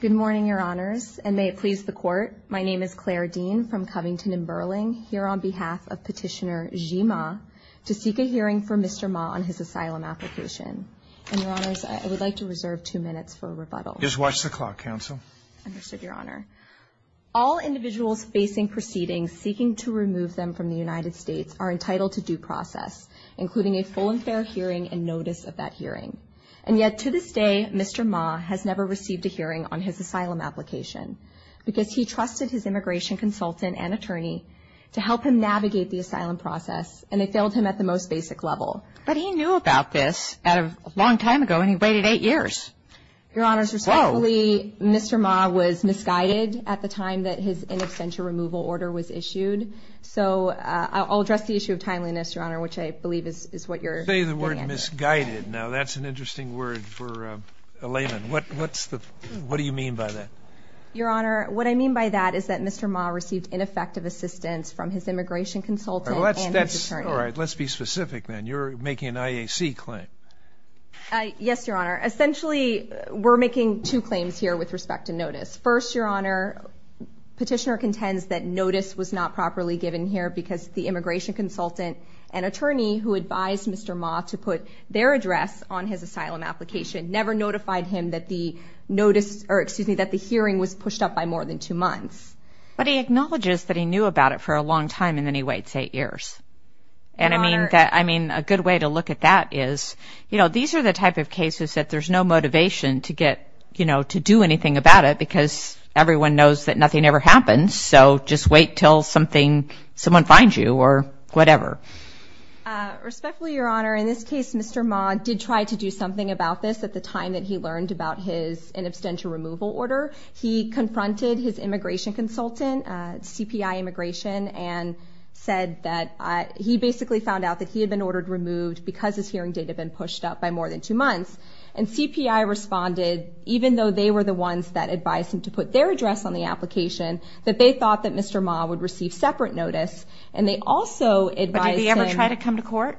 Good morning, Your Honors, and may it please the Court, my name is Claire Dean from Covington and Burling, here on behalf of Petitioner Zhi Ma, to seek a hearing for Mr. Ma on his asylum application. And, Your Honors, I would like to reserve two minutes for a rebuttal. Just watch the clock, Counsel. Understood, Your Honor. All individuals facing proceedings seeking to remove them from the United States are entitled to due process, including a full and fair hearing and notice of that hearing. And yet, to this day, Mr. Ma has never received a hearing on his asylum application because he trusted his immigration consultant and attorney to help him navigate the asylum process and they failed him at the most basic level. But he knew about this a long time ago and he waited eight years. Your Honors, respectfully, Mr. Ma was misguided at the time that his in absentia removal order was issued. So, I'll address the issue of timeliness, Your Honor, which I believe is what you're getting at here. Say the word misguided. Now, that's an interesting word for a layman. What's the, what do you mean by that? Your Honor, what I mean by that is that Mr. Ma received ineffective assistance from his immigration consultant and his attorney. Alright, let's be specific then. You're making an IAC claim. Yes, Your Honor. Essentially, we're making two claims here with respect to notice. First, Your Honor, petitioner contends that notice was not properly given here because the immigration consultant and attorney who advised Mr. Ma to put their address on his asylum application never notified him that the notice, or excuse me, that the hearing was pushed up by more than two months. But he acknowledges that he knew about it for a long time and then he waits eight years. And I mean, a good way to look at that is, you know, these are the type of cases that there's no motivation to get, you know, to do anything about it because everyone knows that nothing ever happens. So just wait until something, someone finds you or whatever. Respectfully, Your Honor, in this case, Mr. Ma did try to do something about this at the time that he learned about his inabstential removal order. He confronted his immigration consultant, CPI Immigration, and said that he basically found out that he had been ordered removed because his hearing date had been pushed up by more than two months. And CPI responded, even though they were the ones that advised him to put their address on the application, that they thought that Mr. Ma would receive separate notice. And they also advised him- But did he ever try to come to court?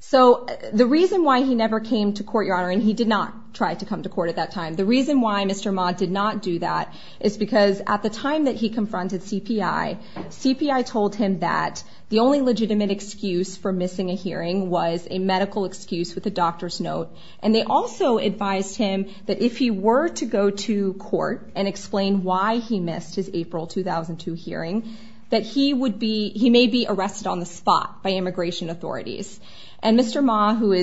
So the reason why he never came to court, Your Honor, and he did not try to come to court at that time. The reason why Mr. Ma did not do that is because at the time that he confronted CPI, CPI told him that the only legitimate excuse for missing a hearing was a medical excuse with a doctor's note. And they also advised him that if he were to go to court and explain why he missed his April 2002 hearing, that he may be arrested on the spot by immigration authorities. And Mr. Ma, who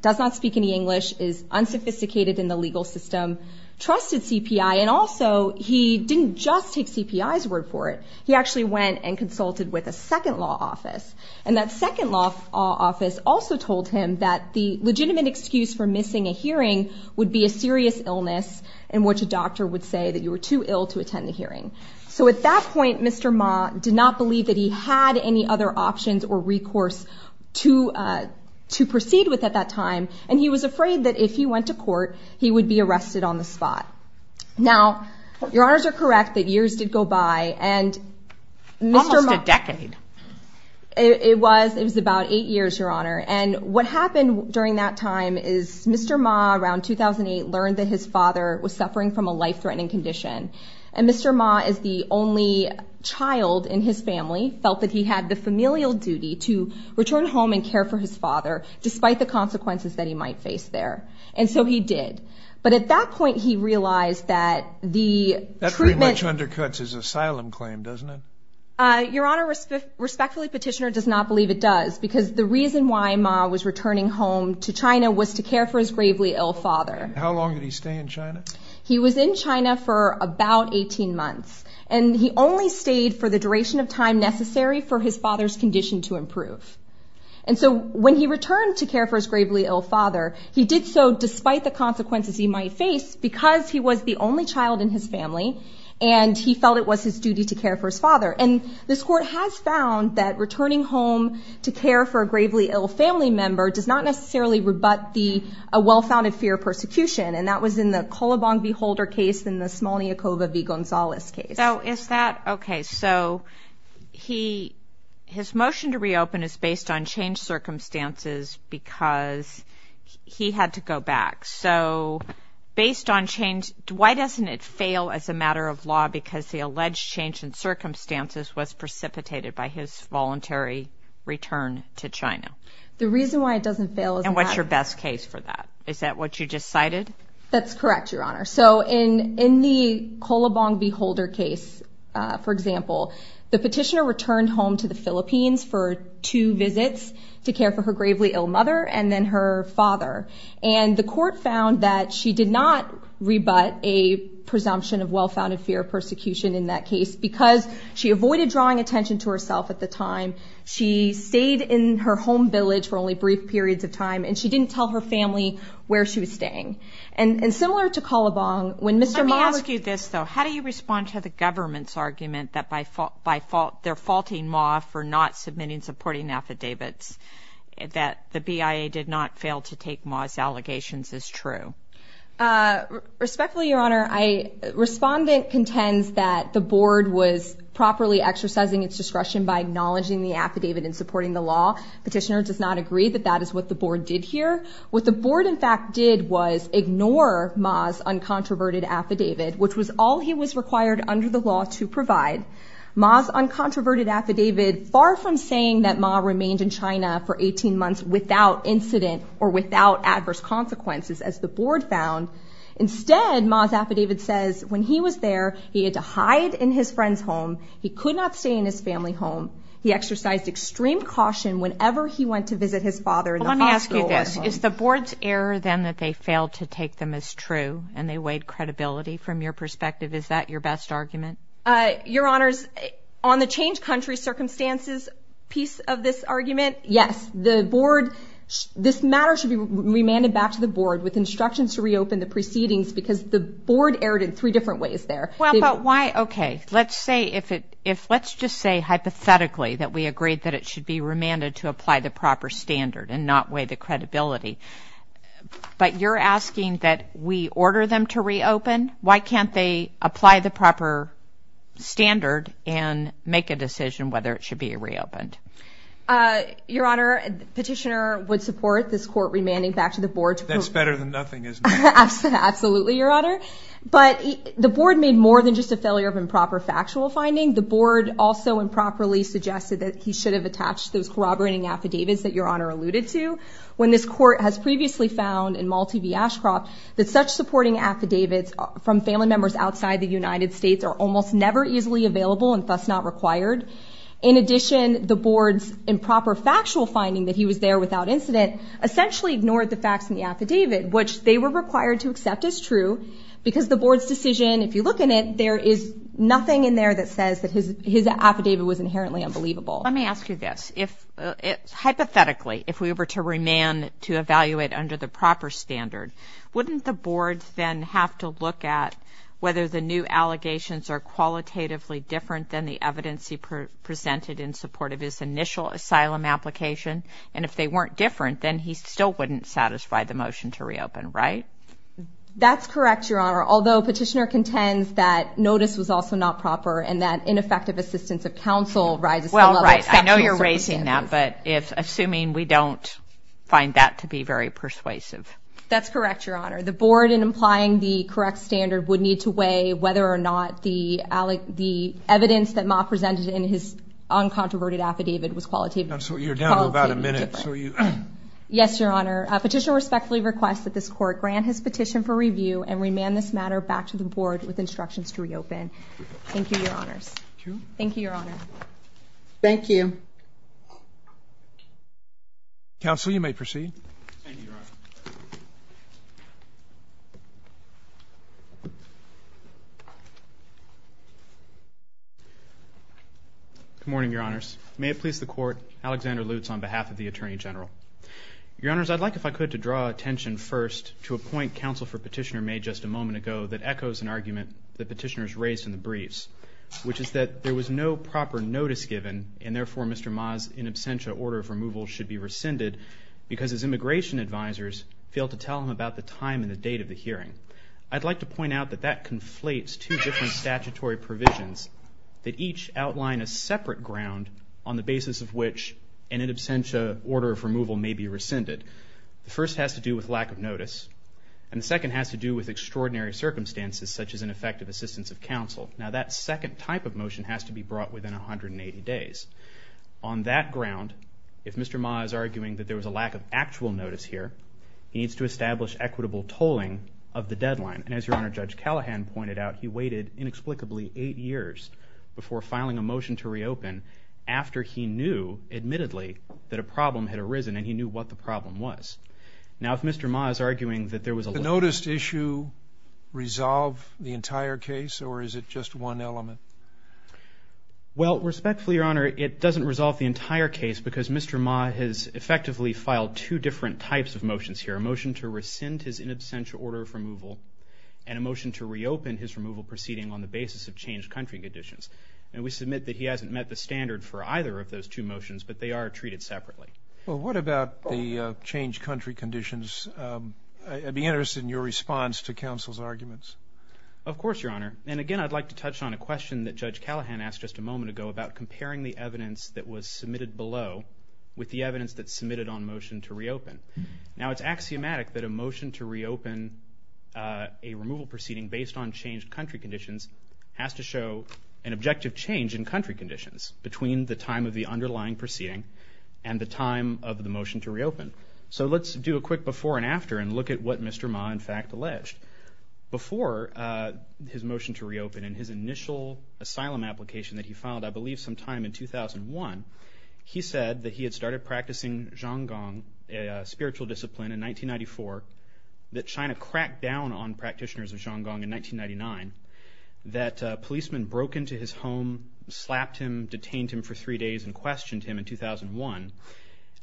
does not speak any English, is unsophisticated in the legal system, trusted CPI. And also, he didn't just take CPI's word for it. He actually went and consulted with a second law office. And that second law office also told him that the legitimate excuse for missing a hearing would be a serious illness in which a doctor would say that you were too ill to attend the hearing. So at that point, Mr. Ma did not believe that he had any other options or recourse to proceed with at that time. And he was afraid that if he went to court, he would be arrested on the spot. Now, Your Honors are correct that years did go by. And Mr. Ma- Almost a decade. It was. It was about eight years, Your Honor. And what happened during that time is Mr. Ma, around 2008, learned that his father was suffering from a life-threatening condition. And Mr. Ma, as the only child in his family, felt that he had the familial duty to return home and care for his father, despite the consequences that he might face there. And so he did. But at that point, he realized that the treatment- That pretty much undercuts his asylum claim, doesn't it? Your Honor, respectfully, Petitioner does not believe it does, because the reason why Ma was returning home to China was to care for his gravely ill father. How long did he stay in China? He was in China for about 18 months. And he only stayed for the duration of time necessary for his father's condition to improve. And so when he returned to care for his gravely ill father, he did so despite the consequences he might face, because he was the only child in his family, and he felt it was his duty to care for his father. And this Court has found that returning home to care for a gravely ill family member does not necessarily rebut the well-founded fear of persecution. And that was in the Kolobong v. Holder case and the Smolniakova v. Gonzalez case. So is that- Okay. So his motion to reopen is based on changed circumstances, because he had to go back. So based on change, why doesn't it fail as a matter of law, because the alleged change in circumstances was precipitated by his voluntary return to China? The reason why it doesn't fail is- And what's your best case for that? Is that what you just cited? That's correct, Your Honor. So in the Kolobong v. Holder case, for example, the Petitioner returned home to the Philippines for two visits to care for her gravely ill mother and then her father. And the Court found that she did not rebut a presumption of well-founded fear of persecution in that case, because she avoided drawing attention to herself at the time. She stayed in her home village for only brief periods of time, and she didn't tell her family where she was staying. And similar to Kolobong, when Mr. Ma- Let me ask you this, though. How do you respond to the government's argument that they're faulting Ma for not submitting supporting affidavits, that the BIA did not fail to take Ma's allegations as true? Respectfully, Your Honor, respondent contends that the Board was properly exercising its discretion by acknowledging the affidavit and supporting the law. Petitioner does not agree that that is what the Board did here. What the Board, in fact, did was ignore Ma's uncontroverted affidavit, which was all he was required under the law to provide. Ma's uncontroverted affidavit, far from saying that Ma remained in China for 18 months without incident or without adverse consequences, as the Board found. Instead, Ma's affidavit says, when he was there, he had to hide in his friend's home. He could not stay in his family home. He exercised extreme caution whenever he went to visit his father- Well, let me ask you this. Is the Board's error, then, that they failed to take them as true, and they weighed credibility? From your perspective, is that your best argument? Your Honors, on the change country circumstances piece of this argument, yes. The Board, this matter should be remanded back to the Board with instructions to reopen the proceedings because the Board erred in three different ways there. Well, but why, okay. Let's say, if it, if, let's just say hypothetically that we agreed that it should be remanded to apply the proper standard and not weigh the credibility, but you're asking that we order them to reopen? Why can't they apply the proper standard and make a decision whether it should be reopened? Your Honor, Petitioner would support this Court remanding back to the Board to- That's better than nothing, isn't it? Absolutely, Your Honor. But the Board made more than just a failure of improper factual finding. The Board also improperly suggested that he should have attached those corroborating affidavits that Your Honor alluded to. When this Court has previously found in Malti v. Ashcroft that such supporting affidavits from family members outside the United States are almost never easily available and thus not required, in addition, the Board's improper factual finding that he was there without incident essentially ignored the facts in the affidavit, which they were required to accept as true because the Board's decision, if you look in it, there is nothing in there that says that his affidavit was inherently unbelievable. Let me ask you this. Hypothetically, if we were to remand to evaluate under the proper standard, wouldn't the Board then have to look at whether the new allegations are qualitatively different than the evidence he presented in support of his initial asylum application? And if they weren't different, then he still wouldn't satisfy the motion to reopen, right? That's correct, Your Honor, although Petitioner contends that notice was also not proper and that ineffective assistance of counsel rises to the level of exceptional circumstances. Well, right. I know you're raising that, but if, assuming we don't find that to be very persuasive. That's correct, Your Honor. The Board, in applying the correct standard, would need to weigh whether or not the evidence that Ma presented in his uncontroverted affidavit was qualitatively different. You're down to about a minute, so you... Yes, Your Honor. Petitioner respectfully requests that this Court grant his petition for review and remand this matter back to the Board with instructions to reopen. Thank you, Your Honors. Thank you. Thank you, Your Honor. Thank you. Counsel, you may proceed. Thank you, Your Honor. Good morning, Your Honors. May it please the Court. Alexander Lutz on behalf of the Attorney General. Your Honors, I'd like, if I could, to draw attention first to a point counsel for Petitioner made just a moment ago that echoes an argument the petitioners raised in the briefs, which is that there was no proper notice given and therefore Mr. Ma's in absentia order of removal should be rescinded because his immigration advisors failed to tell him about the time and the date of the hearing. I'd like to point out that that conflates two different statutory provisions that each outline a separate ground on the basis of which an in absentia order of removal may be rescinded. The first has to do with lack of notice and the second has to do with extraordinary circumstances such as ineffective assistance of counsel. Now that second type of motion has to be brought within 180 days. On that ground, if Mr. Ma is arguing that there was a lack of actual notice here, he needs to establish equitable tolling of the deadline. And as Your Honor, Judge Callahan pointed out, he waited inexplicably eight years before filing a motion to reopen after he knew admittedly that a problem had arisen and he knew what the problem was. Now, if Mr. Ma is arguing that there was a lack of notice here, he needs to establish Now, if Mr. Ma is arguing that there was a lack of actual notice here, he needs to establish Now, if Mr. Ma is arguing that there was a lack of actual notice here, he needs to establish equitable tolling of the deadline. Does the noticed issue resolve the entire case or is it just one element? Well, respectfully, Your Honor, it doesn't resolve the entire case because Mr. Ma has effectively filed two different types of motions here, a motion to rescind his in absentia order of removal and a motion to reopen his removal proceeding on the basis of changed country conditions. And we submit that he hasn't met the standard for either of those two motions, but they are treated separately. Well, what about the changed country conditions? I'd be interested in your response to counsel's arguments. Of course, Your Honor. And again, I'd like to touch on a question that Judge Callahan asked just a moment ago about comparing the evidence that was submitted below with the evidence that's submitted on motion to reopen. Now, it's axiomatic that a motion to reopen a removal proceeding based on changed country conditions has to show an objective change in country conditions between the time of the underlying proceeding and the time of the motion to reopen. So let's do a quick before and after and look at what Mr. Ma, in fact, alleged. Before his motion to reopen and his initial asylum application that he filed, I believe sometime in 2001, he said that he had started practicing Zhong Gong, a spiritual discipline, in 1994, that China cracked down on practitioners of Zhong Gong in 1999, that policemen broke into his home, slapped him, detained him for three days, and questioned him in 2001,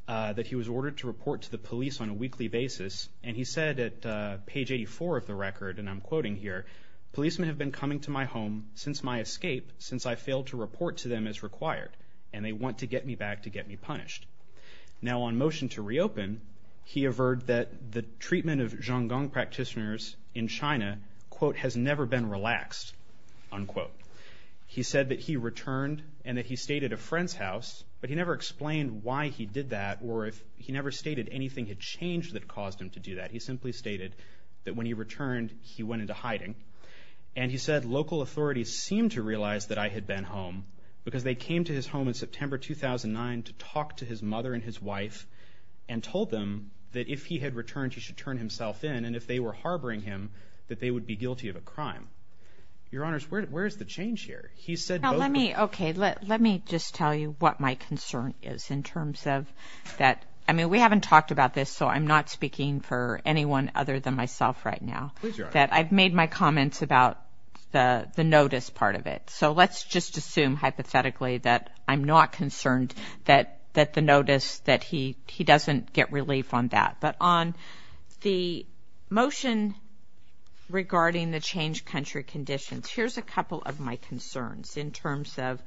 that he was ordered to report to the police on a weekly basis. And he said at page 84 of the record, and I'm quoting here, policemen have been coming to my home since my escape, since I failed to report to them as required, and they want to get me back to get me punished. Now, on motion to reopen, he averred that the treatment of Zhong Gong practitioners in China, quote, has never been relaxed, unquote. He said that he returned and that he stayed at a friend's house, but he never explained why he did that or if he never stated anything had changed that caused him to do that. He simply stated that when he returned, he went into hiding. And he said local authorities seemed to realize that I had been home because they came to his home in September 2009 to talk to his mother and his wife and told them that if he had returned, he should turn himself in. And if they were harboring him, that they would be guilty of a crime. Your Honors, where is the change here? He said both... Now, let me, okay, let me just tell you what my concern is in terms of that. I mean, we haven't talked about this, so I'm not speaking for anyone other than myself right now. Please, Your Honor. That I've made my comments about the notice part of it. So let's just assume hypothetically that I'm not concerned that the notice, that he is concerned. On the motion regarding the changed country conditions, here's a couple of my concerns in terms of,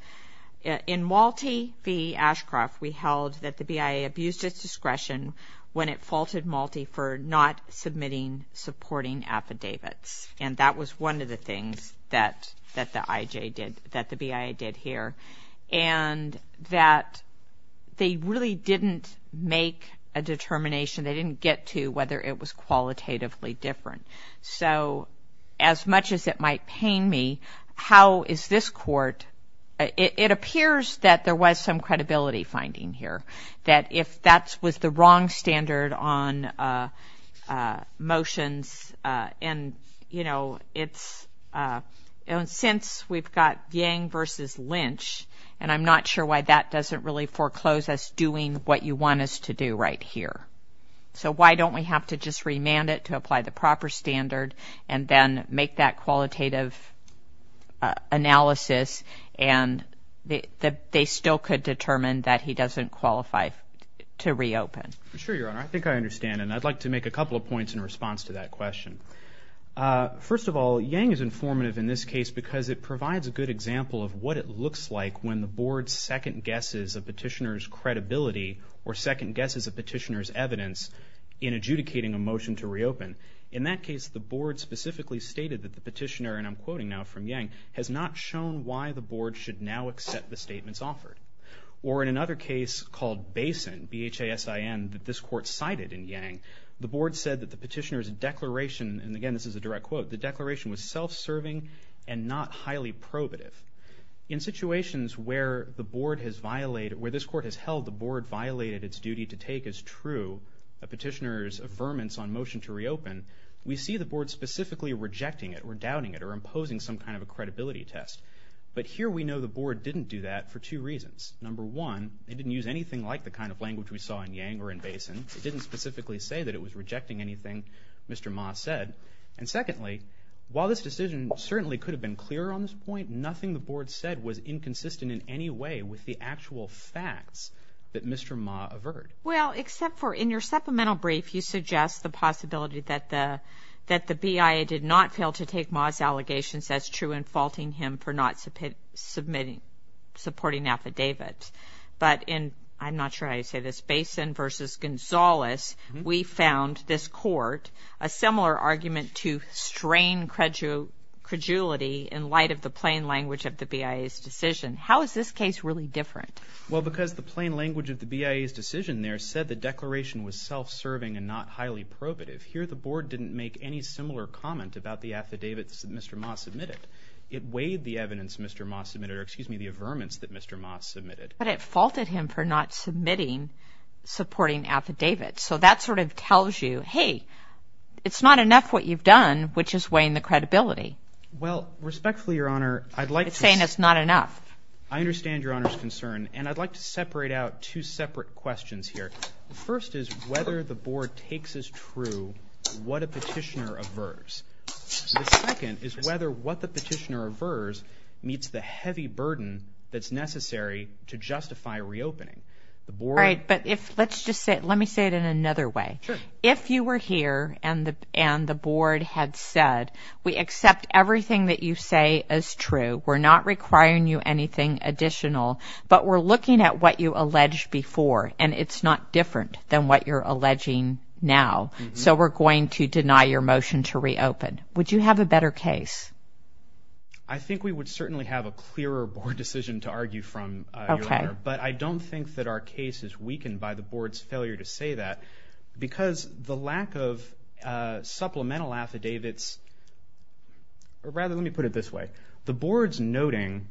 in Malte v. Ashcroft, we held that the BIA abused its discretion when it faulted Malte for not submitting supporting affidavits. And that was one of the things that the IJ did, that the BIA did here. And that they really didn't make a determination, they didn't get to whether it was qualitatively different. So as much as it might pain me, how is this court, it appears that there was some credibility finding here. That if that was the wrong standard on motions and, you know, it's, since we've got Yang v. Lynch, and I'm not sure why that doesn't really foreclose us doing what you want us to do right here. So why don't we have to just remand it to apply the proper standard and then make that qualitative analysis and they still could determine that he doesn't qualify to reopen. Sure, Your Honor. I think I understand. And I'd like to make a couple of points in response to that question. First of all, Yang is informative in this case because it provides a good example of what it looks like when the board second guesses a petitioner's credibility or second guesses a petitioner's evidence in adjudicating a motion to reopen. In that case, the board specifically stated that the petitioner, and I'm quoting now from Yang, has not shown why the board should now accept the statements offered. Or in another case called Basin, B-H-A-S-I-N, that this court cited in Yang, the board said that the petitioner's declaration, and again this is a direct quote, the declaration was self-serving and not highly probative. In situations where the board has violated, where this court has held the board violated its duty to take as true a petitioner's affirmance on motion to reopen, we see the board specifically rejecting it or doubting it or imposing some kind of a credibility test. But here we know the board didn't do that for two reasons. Number one, they didn't use anything like the kind of language we saw in Yang or in Basin. It didn't specifically say that it was rejecting anything Mr. Ma said. And secondly, while this decision certainly could have been clearer on this point, nothing the board said was inconsistent in any way with the actual facts that Mr. Ma averred. Well, except for in your supplemental brief, you suggest the possibility that the BIA did not fail to take Ma's allegations as true in faulting him for not supporting affidavits. But in, I'm not sure how you say this, Basin versus Gonzales, we found this court a similar argument to strain credulity in light of the plain language of the BIA's decision. How is this case really different? Well, because the plain language of the BIA's decision there said the declaration was self-serving and not highly probative. Here the board didn't make any similar comment about the affidavits that Mr. Ma submitted. It weighed the evidence Mr. Ma submitted, or excuse me, the affirmance that Mr. Ma submitted. But it faulted him for not submitting supporting affidavits. So that sort of tells you, hey, it's not enough what you've done, which is weighing the credibility. Well, respectfully, Your Honor, I'd like to... It's saying it's not enough. I understand Your Honor's concern, and I'd like to separate out two separate questions here. The first is whether the board takes as true what a petitioner averves. The second is whether what the petitioner averves meets the heavy burden that's necessary to justify reopening. All right, but let me say it in another way. Sure. If you were here and the board had said, we accept everything that you say is true, we're not requiring you anything additional, but we're looking at what you alleged before, and it's not different than what you're alleging now. So we're going to deny your motion to reopen. Would you have a better case? I think we would certainly have a clearer board decision to argue from, Your Honor. Okay. But I don't think that our case is weakened by the board's failure to say that because the lack of supplemental affidavits, or rather, let me put it this way. The board's noting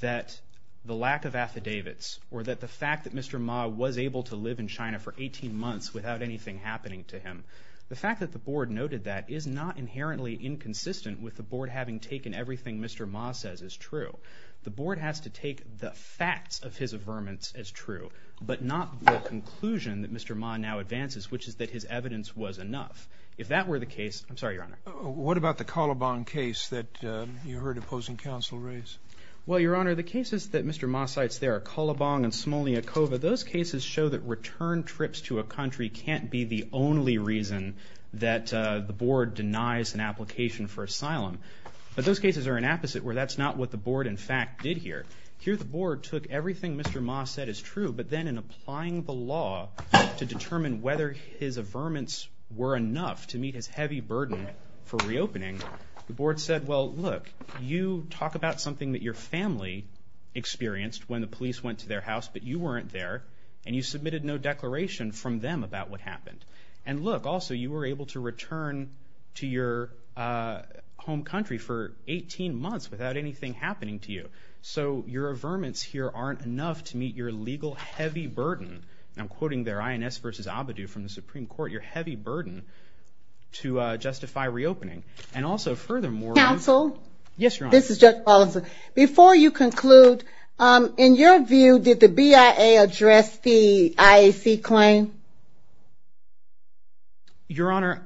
that the lack of affidavits or that the fact that Mr. Ma was able to live in China for 18 months without anything happening to him, the fact that the board noted that is not inherently inconsistent with the board having taken everything Mr. Ma says is true. The board has to take the facts of his averments as true, but not the conclusion that Mr. Ma now advances, which is that his evidence was enough. If that were the case, I'm sorry, Your Honor. What about the Calabong case that you heard opposing counsel raise? Well, Your Honor, the cases that Mr. Ma cites there, Calabong and Somolniakova, those cases show that return trips to a country can't be the only reason that the board denies an application for asylum. But those cases are an opposite where that's not what the board, in fact, did here. Here the board took everything Mr. Ma said is true, but then in applying the law to determine whether his averments were enough to meet his heavy burden for reopening, the board said, well, look, you talk about something that your family experienced when the police went to their house, but you weren't there, and you submitted no declaration from them about what happened. And look, also, you were able to return to your home country for 18 months without anything happening to you. So your averments here aren't enough to meet your legal heavy burden. And I'm quoting there, INS v. Abadou from the Supreme Court, your heavy burden to justify reopening. And also, furthermore... Counsel? Yes, Your Honor. This is Judge Paulson. Before you conclude, in your view, did the BIA address the IAC claim? Your Honor,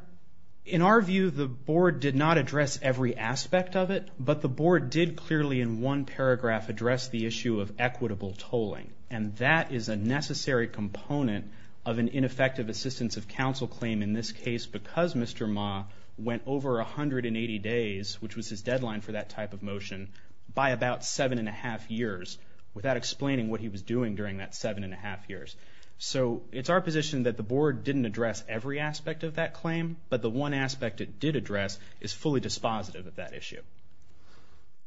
in our view, the board did not address every aspect of it, but the board did clearly in one paragraph address the issue of equitable tolling. And that is a necessary component of an ineffective assistance of counsel claim in this case because Mr. Ma went over 180 days, which was his deadline for that type of motion, by about 7 1⁄2 years without explaining what he was doing during that 7 1⁄2 years. So it's our position that the board didn't address every aspect of that claim, but the one aspect it did address is fully dispositive of that issue.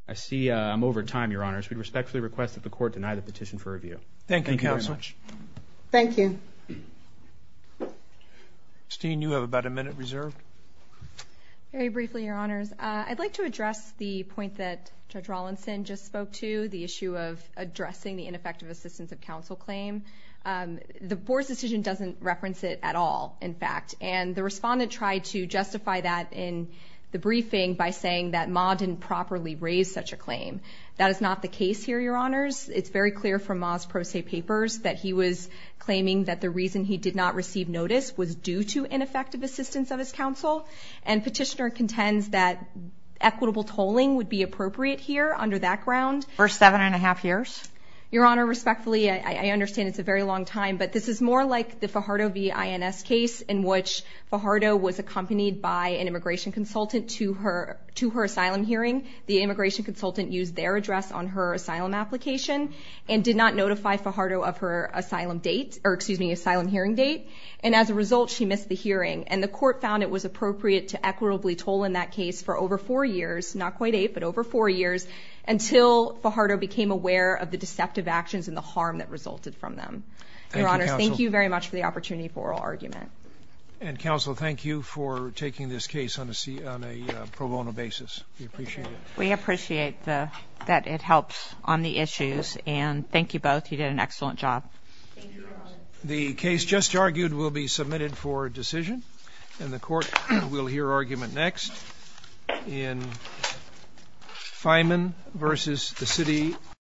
I see I'm over time, Your Honors. We respectfully request that the court deny the petition for review. Thank you, Counsel. Thank you. Christine, you have about a minute reserved. Very briefly, Your Honors. I'd like to address the point that Judge Rawlinson just spoke to, the issue of addressing the ineffective assistance of counsel claim. The board's decision doesn't reference it at all, in fact, and the respondent tried to justify that in the briefing by saying that Ma didn't properly raise such a claim. That is not the case here, Your Honors. It's very clear from Ma's pro se papers that he was claiming that the reason he did not receive notice was due to ineffective assistance of his counsel, and petitioner contends that equitable tolling would be appropriate here under that ground. For 7 1⁄2 years? Your Honor, respectfully, I understand it's a very long time, but this is more like the Fajardo v. INS case in which Fajardo was accompanied by an immigration consultant to her asylum hearing. The immigration consultant used their address on her asylum application and did not notify Fajardo of her asylum hearing date, and as a result, she missed the hearing. And the court found it was appropriate to equitably toll in that case for over 4 years, not quite 8, but over 4 years, until Fajardo became aware of the deceptive actions and the harm that resulted from them. Your Honors, thank you very much for the opportunity for oral argument. And, Counsel, thank you for taking this case on a pro bono basis. We appreciate it. We appreciate that it helps on the issues, and thank you both. You did an excellent job. Thank you, Your Honor.